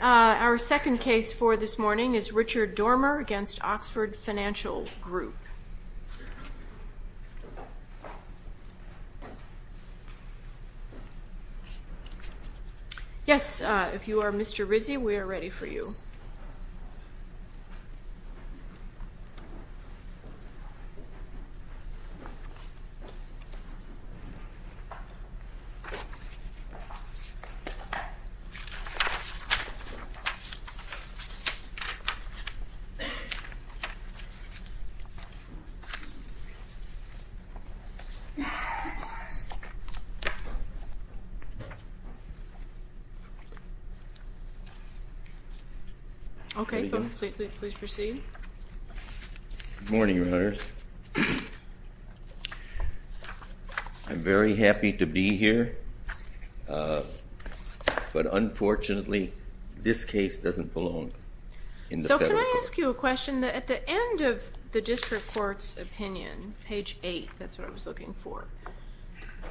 Our second case for this morning is Richard Doermer v. Oxford Financial Group. Yes, if you are Mr Rizzi, we are ready for you. Okay, please proceed. Good morning, your honors. I'm very happy to be here, but unfortunately this case doesn't belong in the federal court. So can I ask you a question? At the end of the district court's opinion, page 8, that's what I was looking for,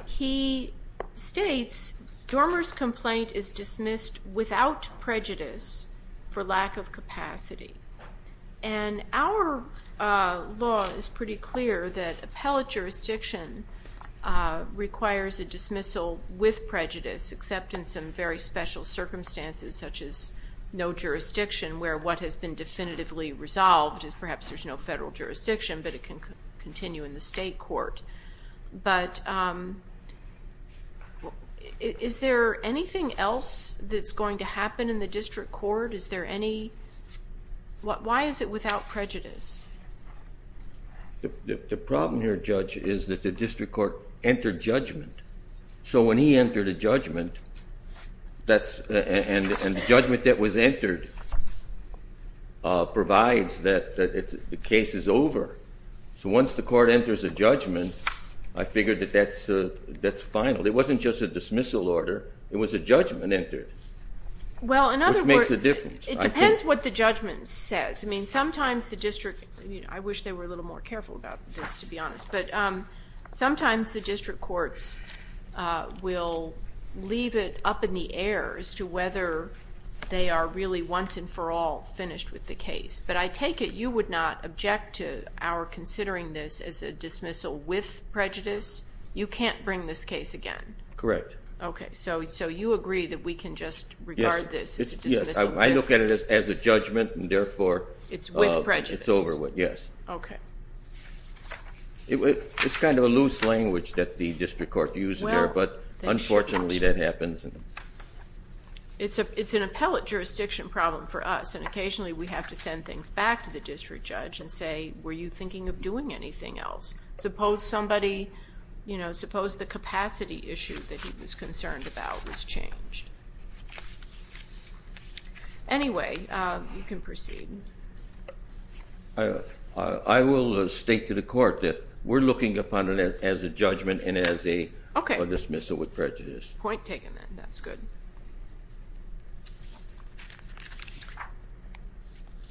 he states, Doermer's complaint is dismissed without prejudice for lack of capacity. And our law is pretty clear that appellate jurisdiction requires a dismissal with prejudice, except in some very special circumstances such as no jurisdiction, where what has been definitively resolved is perhaps there's no federal jurisdiction, but it can continue in the state court. But is there anything else that's going to happen in the district court? Is there any, why is it without prejudice? The problem here, Judge, is that the district court entered judgment. So when he entered a judgment, and the judgment that was entered provides that the case is over. So once the court enters a judgment, I figured that that's final. It wasn't just a dismissal order. It was a judgment entered, which makes a difference. Well, in other words, it depends what the judgment says. I mean, sometimes the district, I wish they were a little more careful about this, to be honest. But sometimes the district courts will leave it up in the air as to whether they are really once and for all finished with the case. But I take it you would not object to our considering this as a dismissal with prejudice? You can't bring this case again? Correct. Okay, so you agree that we can just regard this as a dismissal with prejudice? Yes, I look at it as a judgment, and therefore it's over with, yes. Okay. It's kind of a loose language that the district court uses there, but unfortunately that happens. It's an appellate jurisdiction problem for us, and occasionally we have to send things back to the district judge and say, were you thinking of doing anything else? Suppose somebody, you know, suppose the capacity issue that he was concerned about was changed. Anyway, you can proceed. I will state to the court that we're looking upon it as a judgment and as a dismissal with prejudice. Point taken then, that's good.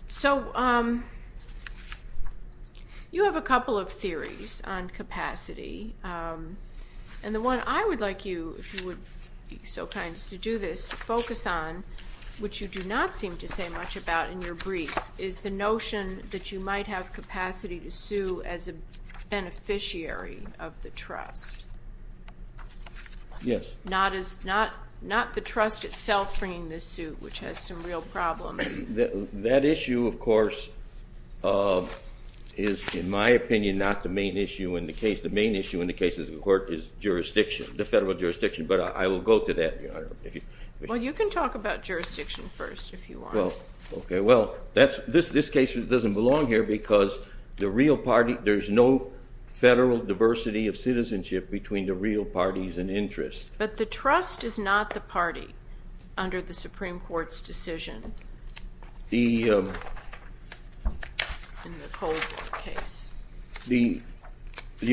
So you have a couple of theories on capacity, and the one I would like you, if you would be so kind as to do this, focus on, which you do not seem to say much about in your brief, is the notion that you might have capacity to sue as a beneficiary of the trust. Yes. Not the trust itself bringing this suit, which has some real problems. That issue, of course, is, in my opinion, not the main issue in the case. The main issue in the case of the court is jurisdiction, the federal jurisdiction, but I will go to that, Your Honor. Well, you can talk about jurisdiction first, if you want. Okay, well, this case doesn't belong here because the real party, there's no federal diversity of citizenship between the real parties and interests. But the trust is not the party under the Supreme Court's decision in the Cold case. You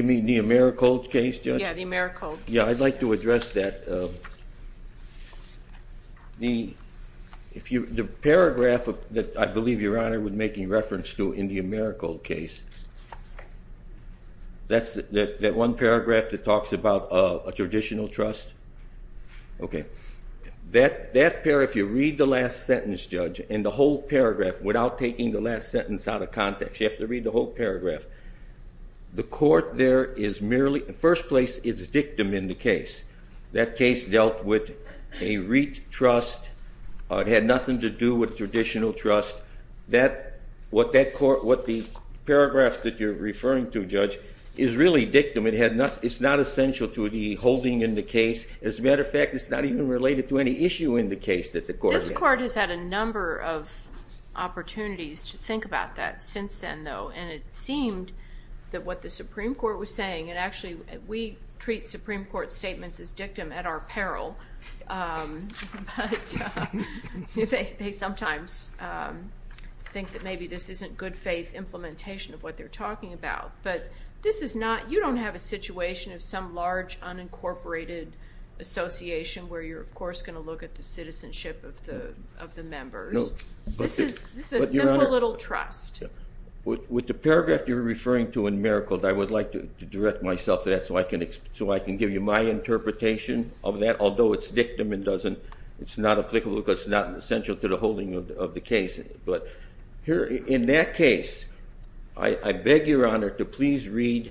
mean the AmeriCold case, Judge? Yeah, the AmeriCold case. Yeah, I'd like to address that. The paragraph that I believe Your Honor was making reference to in the AmeriCold case, that's that one paragraph that talks about a traditional trust? Okay. That paragraph, if you read the last sentence, Judge, in the whole paragraph, without taking the last sentence out of context, you have to read the whole paragraph, the court there is merely, in the first place, is a victim in the case. That case dealt with a retrust. It had nothing to do with traditional trust. What the paragraph that you're referring to, Judge, is really dictum. It's not essential to the holding in the case. As a matter of fact, it's not even related to any issue in the case that the court had. This court has had a number of opportunities to think about that since then, though, and it seemed that what the Supreme Court was saying, and actually we treat Supreme Court statements as dictum at our peril, but they sometimes think that maybe this isn't good faith implementation of what they're talking about. But this is not, you don't have a situation of some large unincorporated association where you're, of course, going to look at the citizenship of the members. This is simple little trust. With the paragraph you're referring to in Mericle, I would like to direct myself to that so I can give you my interpretation of that, although it's dictum and it's not applicable because it's not essential to the holding of the case. But in that case, I beg your honor to please read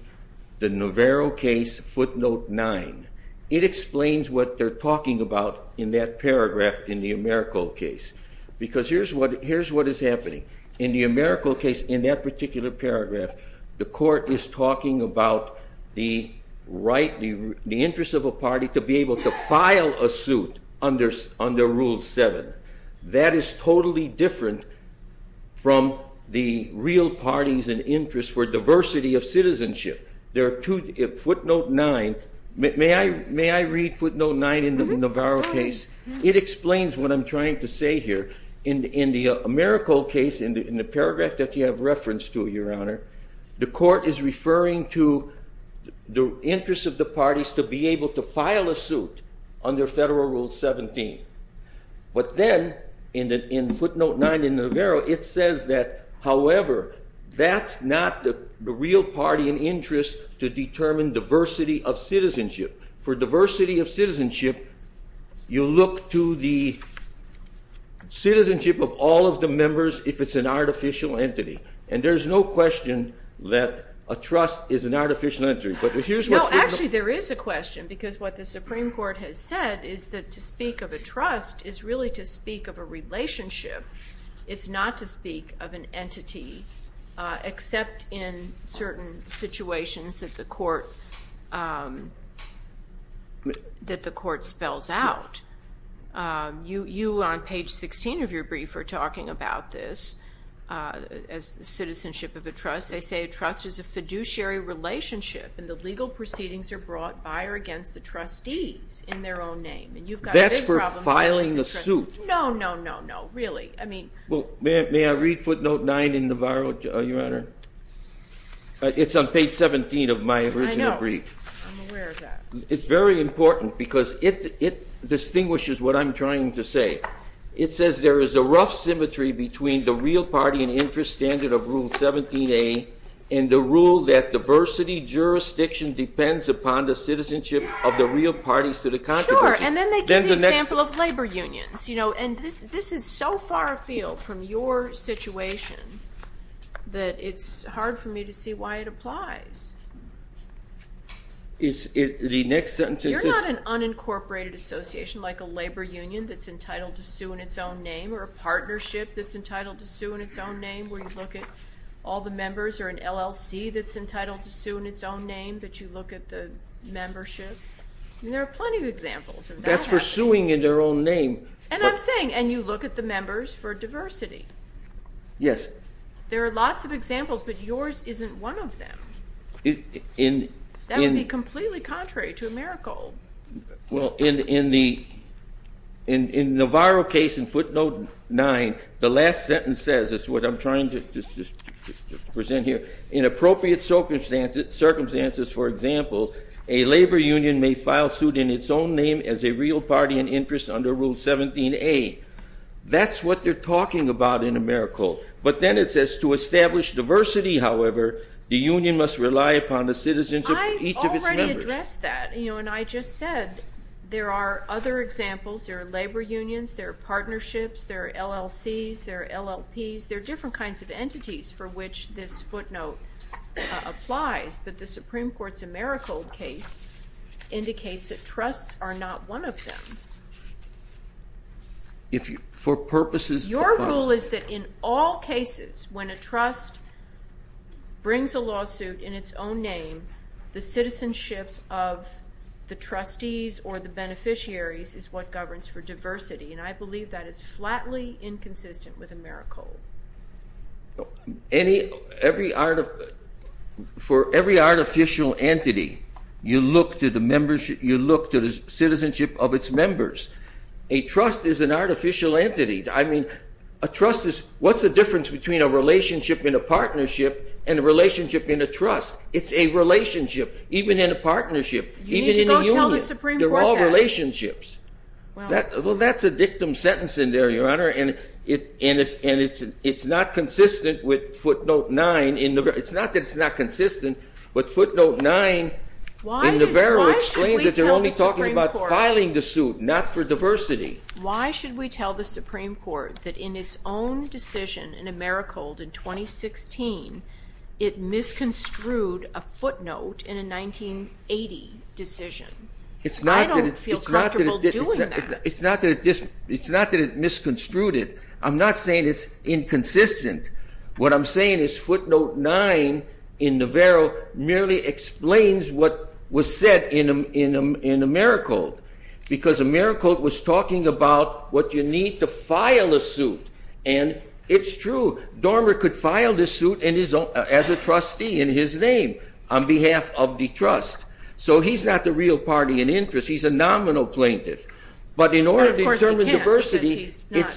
the Navarro case footnote 9. It explains what they're talking about in that paragraph in the Mericle case because here's what is happening. In the Mericle case, in that particular paragraph, the court is talking about the right, the interest of a party to be able to file a suit under Rule 7. That is totally different from the real parties and interest for diversity of citizenship. There are two, footnote 9, may I read footnote 9 in the Navarro case? It explains what I'm trying to say here. In the Mericle case, in the paragraph that you have reference to, your honor, the court is referring to the interest of the parties to be able to file a suit under Federal Rule 17. But then, in footnote 9 in Navarro, it says that, however, that's not the real party and interest to determine diversity of citizenship. For diversity of citizenship, you look to the citizenship of all of the members if it's an artificial entity. And there's no question that a trust is an artificial entity. No, actually, there is a question because what the Supreme Court has said is that to speak of a trust is really to speak of a relationship. It's not to speak of an entity except in certain situations that the court spells out. You, on page 16 of your brief, are talking about this as the citizenship of a trust. They say a trust is a fiduciary relationship, and the legal proceedings are brought by or against the trustees in their own name. And you've got a big problem. That's for filing a suit. No, no, no, no. Really. May I read footnote 9 in Navarro, Your Honor? It's on page 17 of my original brief. I know. I'm aware of that. It's very important because it distinguishes what I'm trying to say. It says there is a rough symmetry between the real party and interest standard of Rule 17a and the rule that diversity jurisdiction depends upon the citizenship of the real parties to the constitution. Sure, and then they give the example of labor unions. And this is so far afield from your situation that it's hard for me to see why it applies. You're not an unincorporated association like a labor union that's entitled to sue in its own name or a partnership that's entitled to sue in its own name where you look at all the members or an LLC that's entitled to sue in its own name that you look at the membership. There are plenty of examples. That's for suing in their own name. And I'm saying, and you look at the members for diversity. Yes. There are lots of examples, but yours isn't one of them. That would be completely contrary to AmeriCorps. Well, in the Navarro case in footnote 9, the last sentence says, it's what I'm trying to present here, in appropriate circumstances, for example, a labor union may file suit in its own name as a real party in interest under Rule 17A. That's what they're talking about in AmeriCorps. But then it says, to establish diversity, however, the union must rely upon the citizenship of each of its members. I already addressed that, and I just said there are other examples. There are labor unions. There are partnerships. There are LLCs. There are LLPs. There are different kinds of entities for which this footnote applies. But the Supreme Court's AmeriCorps case indicates that trusts are not one of them. For purposes of file. Your rule is that in all cases, when a trust brings a lawsuit in its own name, the citizenship of the trustees or the beneficiaries is what governs for diversity. And I believe that is flatly inconsistent with AmeriCorps. For every artificial entity, you look to the citizenship of its members. A trust is an artificial entity. I mean, a trust is what's the difference between a relationship in a partnership and a relationship in a trust? It's a relationship, even in a partnership, even in a union. You need to go tell the Supreme Court that. They're all relationships. Well, that's a dictum sentence in there, Your Honor. And it's not consistent with footnote 9. It's not that it's not consistent. But footnote 9 in Navarro explains that they're only talking about filing the suit, not for diversity. Why should we tell the Supreme Court that in its own decision in AmeriCorps in 2016, it misconstrued a footnote in a 1980 decision? I don't feel comfortable doing that. It's not that it misconstrued it. I'm not saying it's inconsistent. What I'm saying is footnote 9 in Navarro merely explains what was said in AmeriCorps, because AmeriCorps was talking about what you need to file a suit. And it's true. Dormer could file this suit as a trustee in his name on behalf of the trust. So he's not the real party in interest. He's a nominal plaintiff. But in order to determine diversity,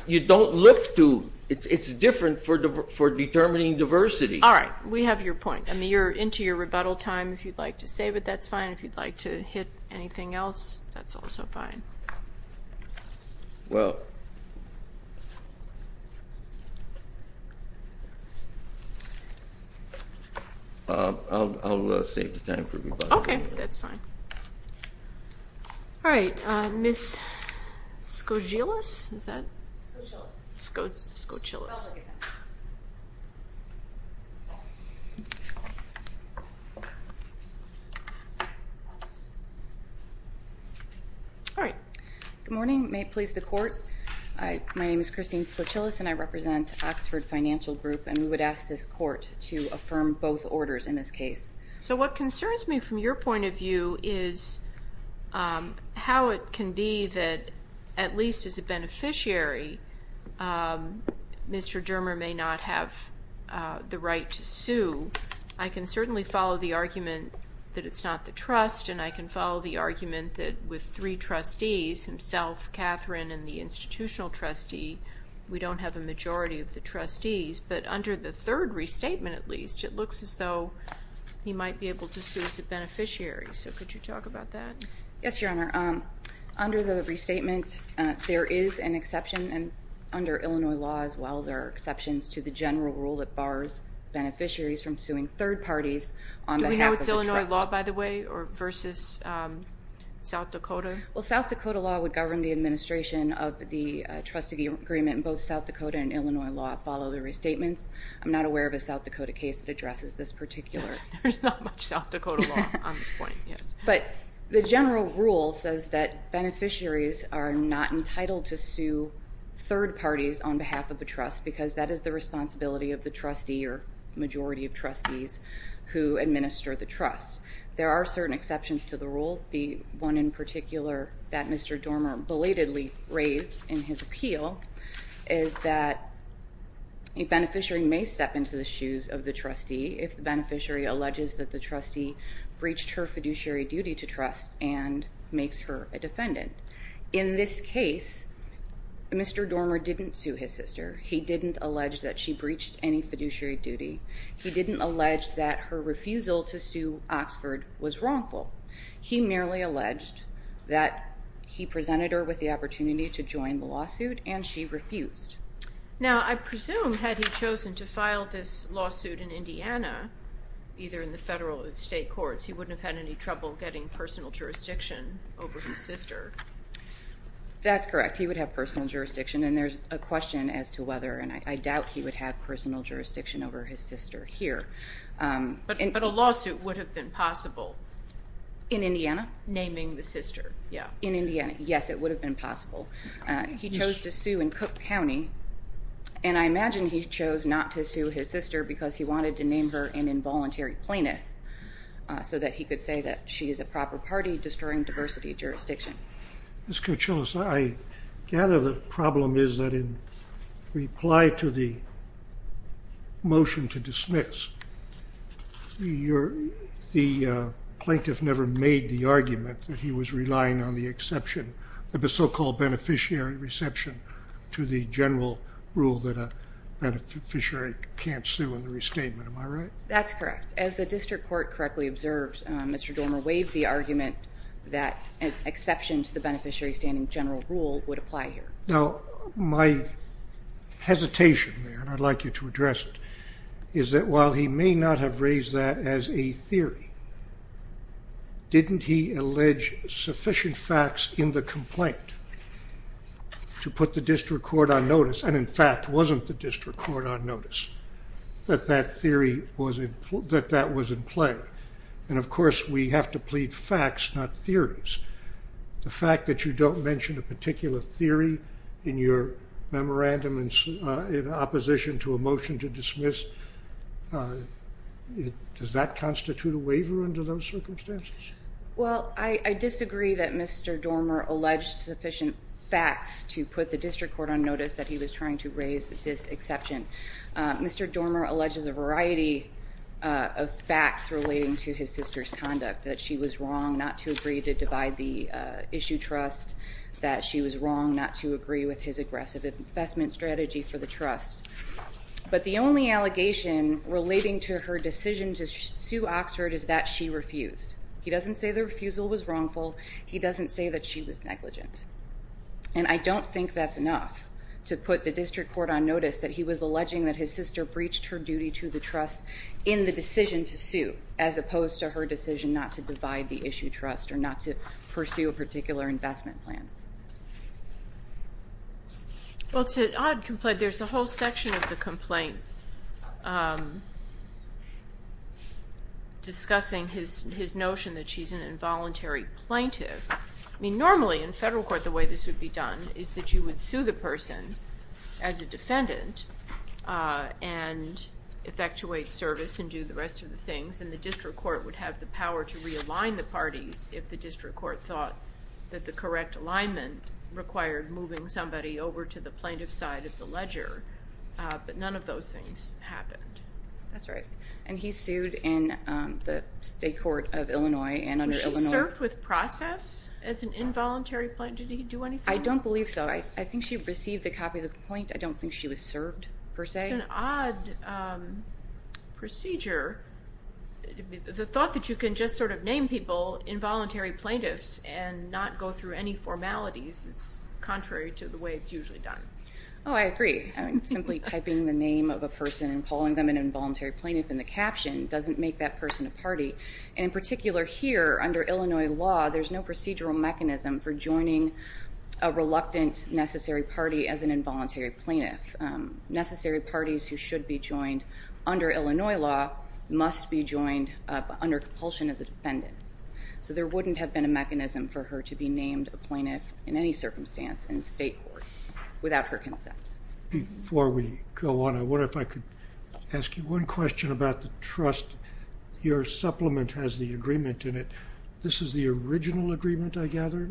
you don't look to. It's different for determining diversity. All right, we have your point. I mean, you're into your rebuttal time, if you'd like to save it, that's fine. If you'd like to hit anything else, that's also fine. Well, I'll save the time for rebuttal. Okay, that's fine. All right, Ms. Skocilis, is that? Skocilis. Skocilis. All right. Good morning. May it please the Court. My name is Christine Skocilis, and I represent Oxford Financial Group. And we would ask this Court to affirm both orders in this case. So what concerns me from your point of view is how it can be that, at least as a beneficiary, Mr. Dormer may not have the right to sue. I can certainly follow the argument that it's not the trust, and I can follow the argument that with three trustees, himself, Catherine, and the institutional trustee, we don't have a majority of the trustees. But under the third restatement, at least, it looks as though he might be able to sue as a beneficiary. So could you talk about that? Yes, Your Honor. Under the restatement, there is an exception, and under Illinois law as well, there are exceptions to the general rule that bars beneficiaries from suing third parties on behalf of the trustee. Do we know it's Illinois law, by the way, versus South Dakota? Well, South Dakota law would govern the administration of the trust agreement, and both South Dakota and Illinois law follow the restatements. I'm not aware of a South Dakota case that addresses this particular. There's not much South Dakota law on this point, yes. But the general rule says that beneficiaries are not entitled to sue third parties on behalf of the trust because that is the responsibility of the trustee or majority of trustees who administer the trust. There are certain exceptions to the rule, the one in particular that Mr. Dormer belatedly raised in his appeal. It's that a beneficiary may step into the shoes of the trustee if the beneficiary alleges that the trustee breached her fiduciary duty to trust and makes her a defendant. In this case, Mr. Dormer didn't sue his sister. He didn't allege that she breached any fiduciary duty. He didn't allege that her refusal to sue Oxford was wrongful. He merely alleged that he presented her with the opportunity to join the lawsuit, and she refused. Now, I presume had he chosen to file this lawsuit in Indiana, either in the federal or the state courts, he wouldn't have had any trouble getting personal jurisdiction over his sister. That's correct. He would have personal jurisdiction, and there's a question as to whether and I doubt he would have personal jurisdiction over his sister here. But a lawsuit would have been possible. In Indiana? Naming the sister, yeah. In Indiana, yes, it would have been possible. He chose to sue in Cook County, and I imagine he chose not to sue his sister because he wanted to name her an involuntary plaintiff so that he could say that she is a proper party, destroying diversity of jurisdiction. Ms. Coachella, I gather the problem is that in reply to the motion to dismiss, the plaintiff never made the argument that he was relying on the exception of the so-called beneficiary reception to the general rule that a beneficiary can't sue in the restatement. Am I right? That's correct. As the district court correctly observes, Mr. Dormer waived the argument that an exception to the beneficiary standing general rule would apply here. Now, my hesitation there, and I'd like you to address it, is that while he may not have raised that as a theory, didn't he allege sufficient facts in the complaint to put the district court on notice, and, in fact, wasn't the district court on notice that that theory was in play? And, of course, we have to plead facts, not theories. The fact that you don't mention a particular theory in your memorandum in opposition to a motion to dismiss, does that constitute a waiver under those circumstances? Well, I disagree that Mr. Dormer alleged sufficient facts to put the district court on notice that he was trying to raise this exception. Mr. Dormer alleges a variety of facts relating to his sister's conduct, that she was wrong not to agree to divide the issue trust, that she was wrong not to agree with his aggressive investment strategy for the trust. But the only allegation relating to her decision to sue Oxford is that she refused. He doesn't say the refusal was wrongful. He doesn't say that she was negligent. And I don't think that's enough to put the district court on notice that he was alleging that his sister breached her duty to the trust in the decision to sue, as opposed to her decision not to divide the issue trust or not to pursue a particular investment plan. Well, it's an odd complaint. There's a whole section of the complaint discussing his notion that she's an involuntary plaintiff. I mean, normally in federal court the way this would be done is that you would sue the person as a defendant and effectuate service and do the rest of the things, and the district court would have the power to realign the parties if the district court thought that the correct alignment required moving somebody over to the plaintiff's side of the ledger. But none of those things happened. That's right. And he sued in the state court of Illinois and under Illinois. Was she served with process as an involuntary plaintiff? Did he do anything? I don't believe so. I think she received a copy of the complaint. I don't think she was served, per se. It's an odd procedure. The thought that you can just sort of name people involuntary plaintiffs and not go through any formalities is contrary to the way it's usually done. Oh, I agree. I mean, simply typing the name of a person and calling them an involuntary plaintiff in the caption doesn't make that person a party. And in particular here, under Illinois law, there's no procedural mechanism for joining a reluctant necessary party as an involuntary plaintiff. Necessary parties who should be joined under Illinois law must be joined under compulsion as a defendant. So there wouldn't have been a mechanism for her to be named a plaintiff in any circumstance in the state court without her consent. Before we go on, I wonder if I could ask you one question about the trust. Your supplement has the agreement in it. This is the original agreement, I gather?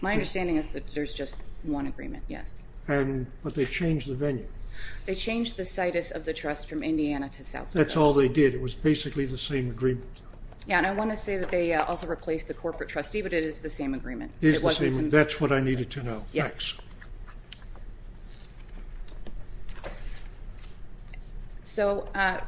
My understanding is that there's just one agreement, yes. But they changed the venue. They changed the situs of the trust from Indiana to South Dakota. That's all they did. It was basically the same agreement. Yeah, and I want to say that they also replaced the corporate trustee, but it is the same agreement. It is the same agreement. That's what I needed to know. Yes. So at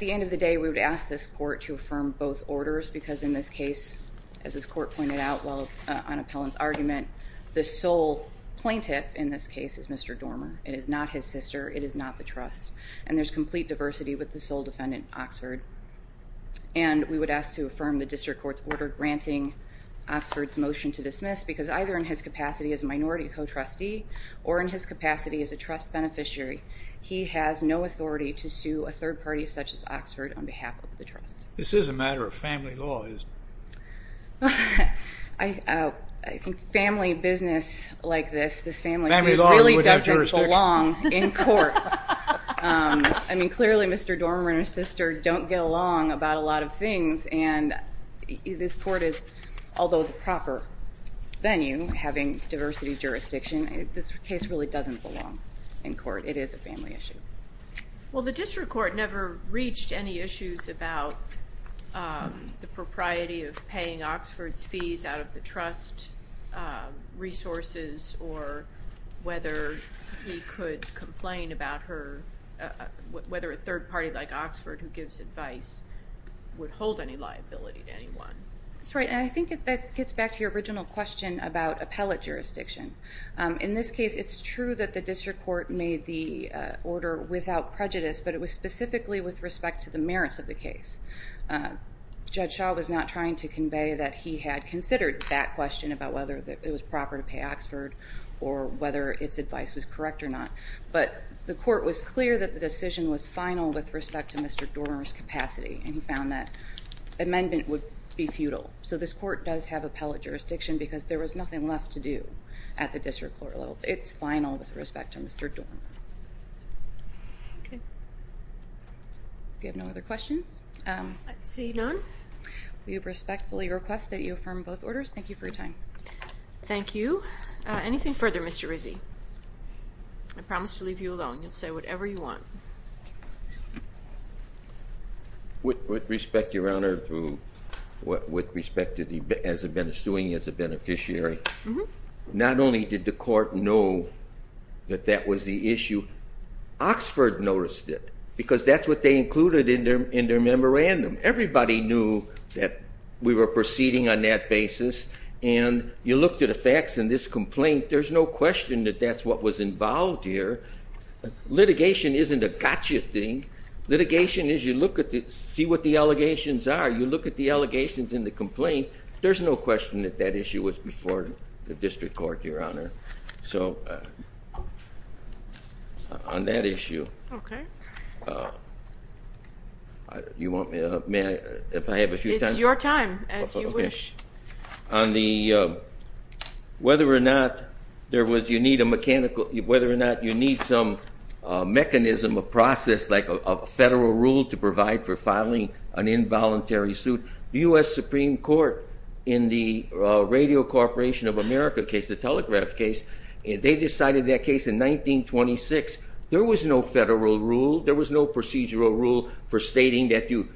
the end of the day, we would ask this court to affirm both orders because in this case, as this court pointed out on Appellant's argument, the sole plaintiff in this case is Mr. Dormer. It is not his sister. It is not the trust. And there's complete diversity with the sole defendant, Oxford. And we would ask to affirm the district court's order granting Oxford's motion to dismiss because either in his capacity as a minority co-trustee or in his capacity as a trust beneficiary, he has no authority to sue a third party such as Oxford on behalf of the trust. This is a matter of family law, isn't it? I think family business like this, this family really doesn't belong in court. I mean, clearly Mr. Dormer and his sister don't get along about a lot of things, and this court is, although the proper venue, having diversity jurisdiction, this case really doesn't belong in court. It is a family issue. Well, the district court never reached any issues about the propriety of paying Oxford's fees out of the trust resources or whether he could complain about her, whether a third party like Oxford who gives advice would hold any liability to anyone. That's right, and I think that gets back to your original question about appellate jurisdiction. In this case, it's true that the district court made the order without prejudice, but it was specifically with respect to the merits of the case. Judge Shaw was not trying to convey that he had considered that question about whether it was proper to pay Oxford or whether its advice was correct or not, but the court was clear that the decision was final with respect to Mr. Dormer's capacity, and he found that amendment would be futile. So this court does have appellate jurisdiction because there was nothing left to do at the district court level. It's final with respect to Mr. Dormer. Okay. If you have no other questions. I see none. We respectfully request that you affirm both orders. Thank you for your time. Thank you. Anything further, Mr. Rizzi? I promise to leave you alone. You can say whatever you want. With respect, Your Honor, with respect to the suing as a beneficiary, not only did the court know that that was the issue, Oxford noticed it because that's what they included in their memorandum. Everybody knew that we were proceeding on that basis, and you looked at the facts in this complaint. There's no question that that's what was involved here. Litigation isn't a gotcha thing. Litigation is you look at it, see what the allegations are. You look at the allegations in the complaint. There's no question that that issue was before the district court, Your Honor. So on that issue. Okay. You want me to help? May I, if I have a few times? It's your time, as you wish. On the whether or not there was, you need a mechanical, whether or not you need some mechanism, a process, like a federal rule to provide for filing an involuntary suit, the U.S. Supreme Court in the Radio Corporation of America case, the telegraph case, they decided that case in 1926. There was no federal rule. There was no procedural rule for stating that you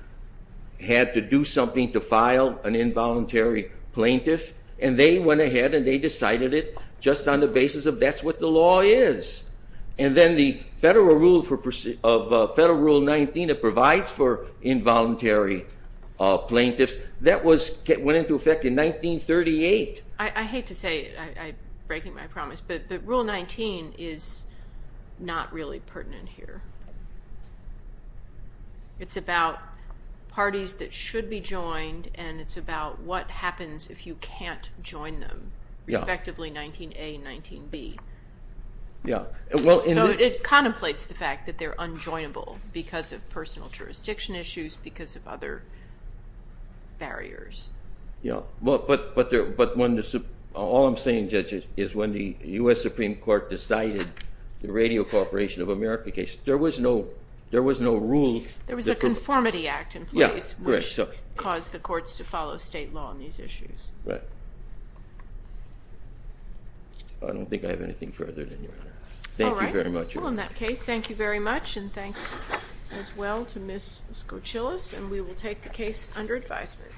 had to do something to file an involuntary plaintiff, and they went ahead and they decided it just on the basis of that's what the law is. And then the federal rule 19 that provides for involuntary plaintiffs, that went into effect in 1938. I hate to say it. I'm breaking my promise. But rule 19 is not really pertinent here. It's about parties that should be joined, and it's about what happens if you can't join them, respectively 19A and 19B. Yeah. So it contemplates the fact that they're unjoinable because of personal jurisdiction issues, because of other barriers. Yeah. But all I'm saying, Judge, is when the U.S. Supreme Court decided the Radio Corporation of America case, there was no rule. There was a Conformity Act in place, which caused the courts to follow state law on these issues. Right. I don't think I have anything further, Your Honor. All right. Thank you very much. Well, in that case, thank you very much, and thanks as well to Ms. Skoucilis, and we will take the case under advisement.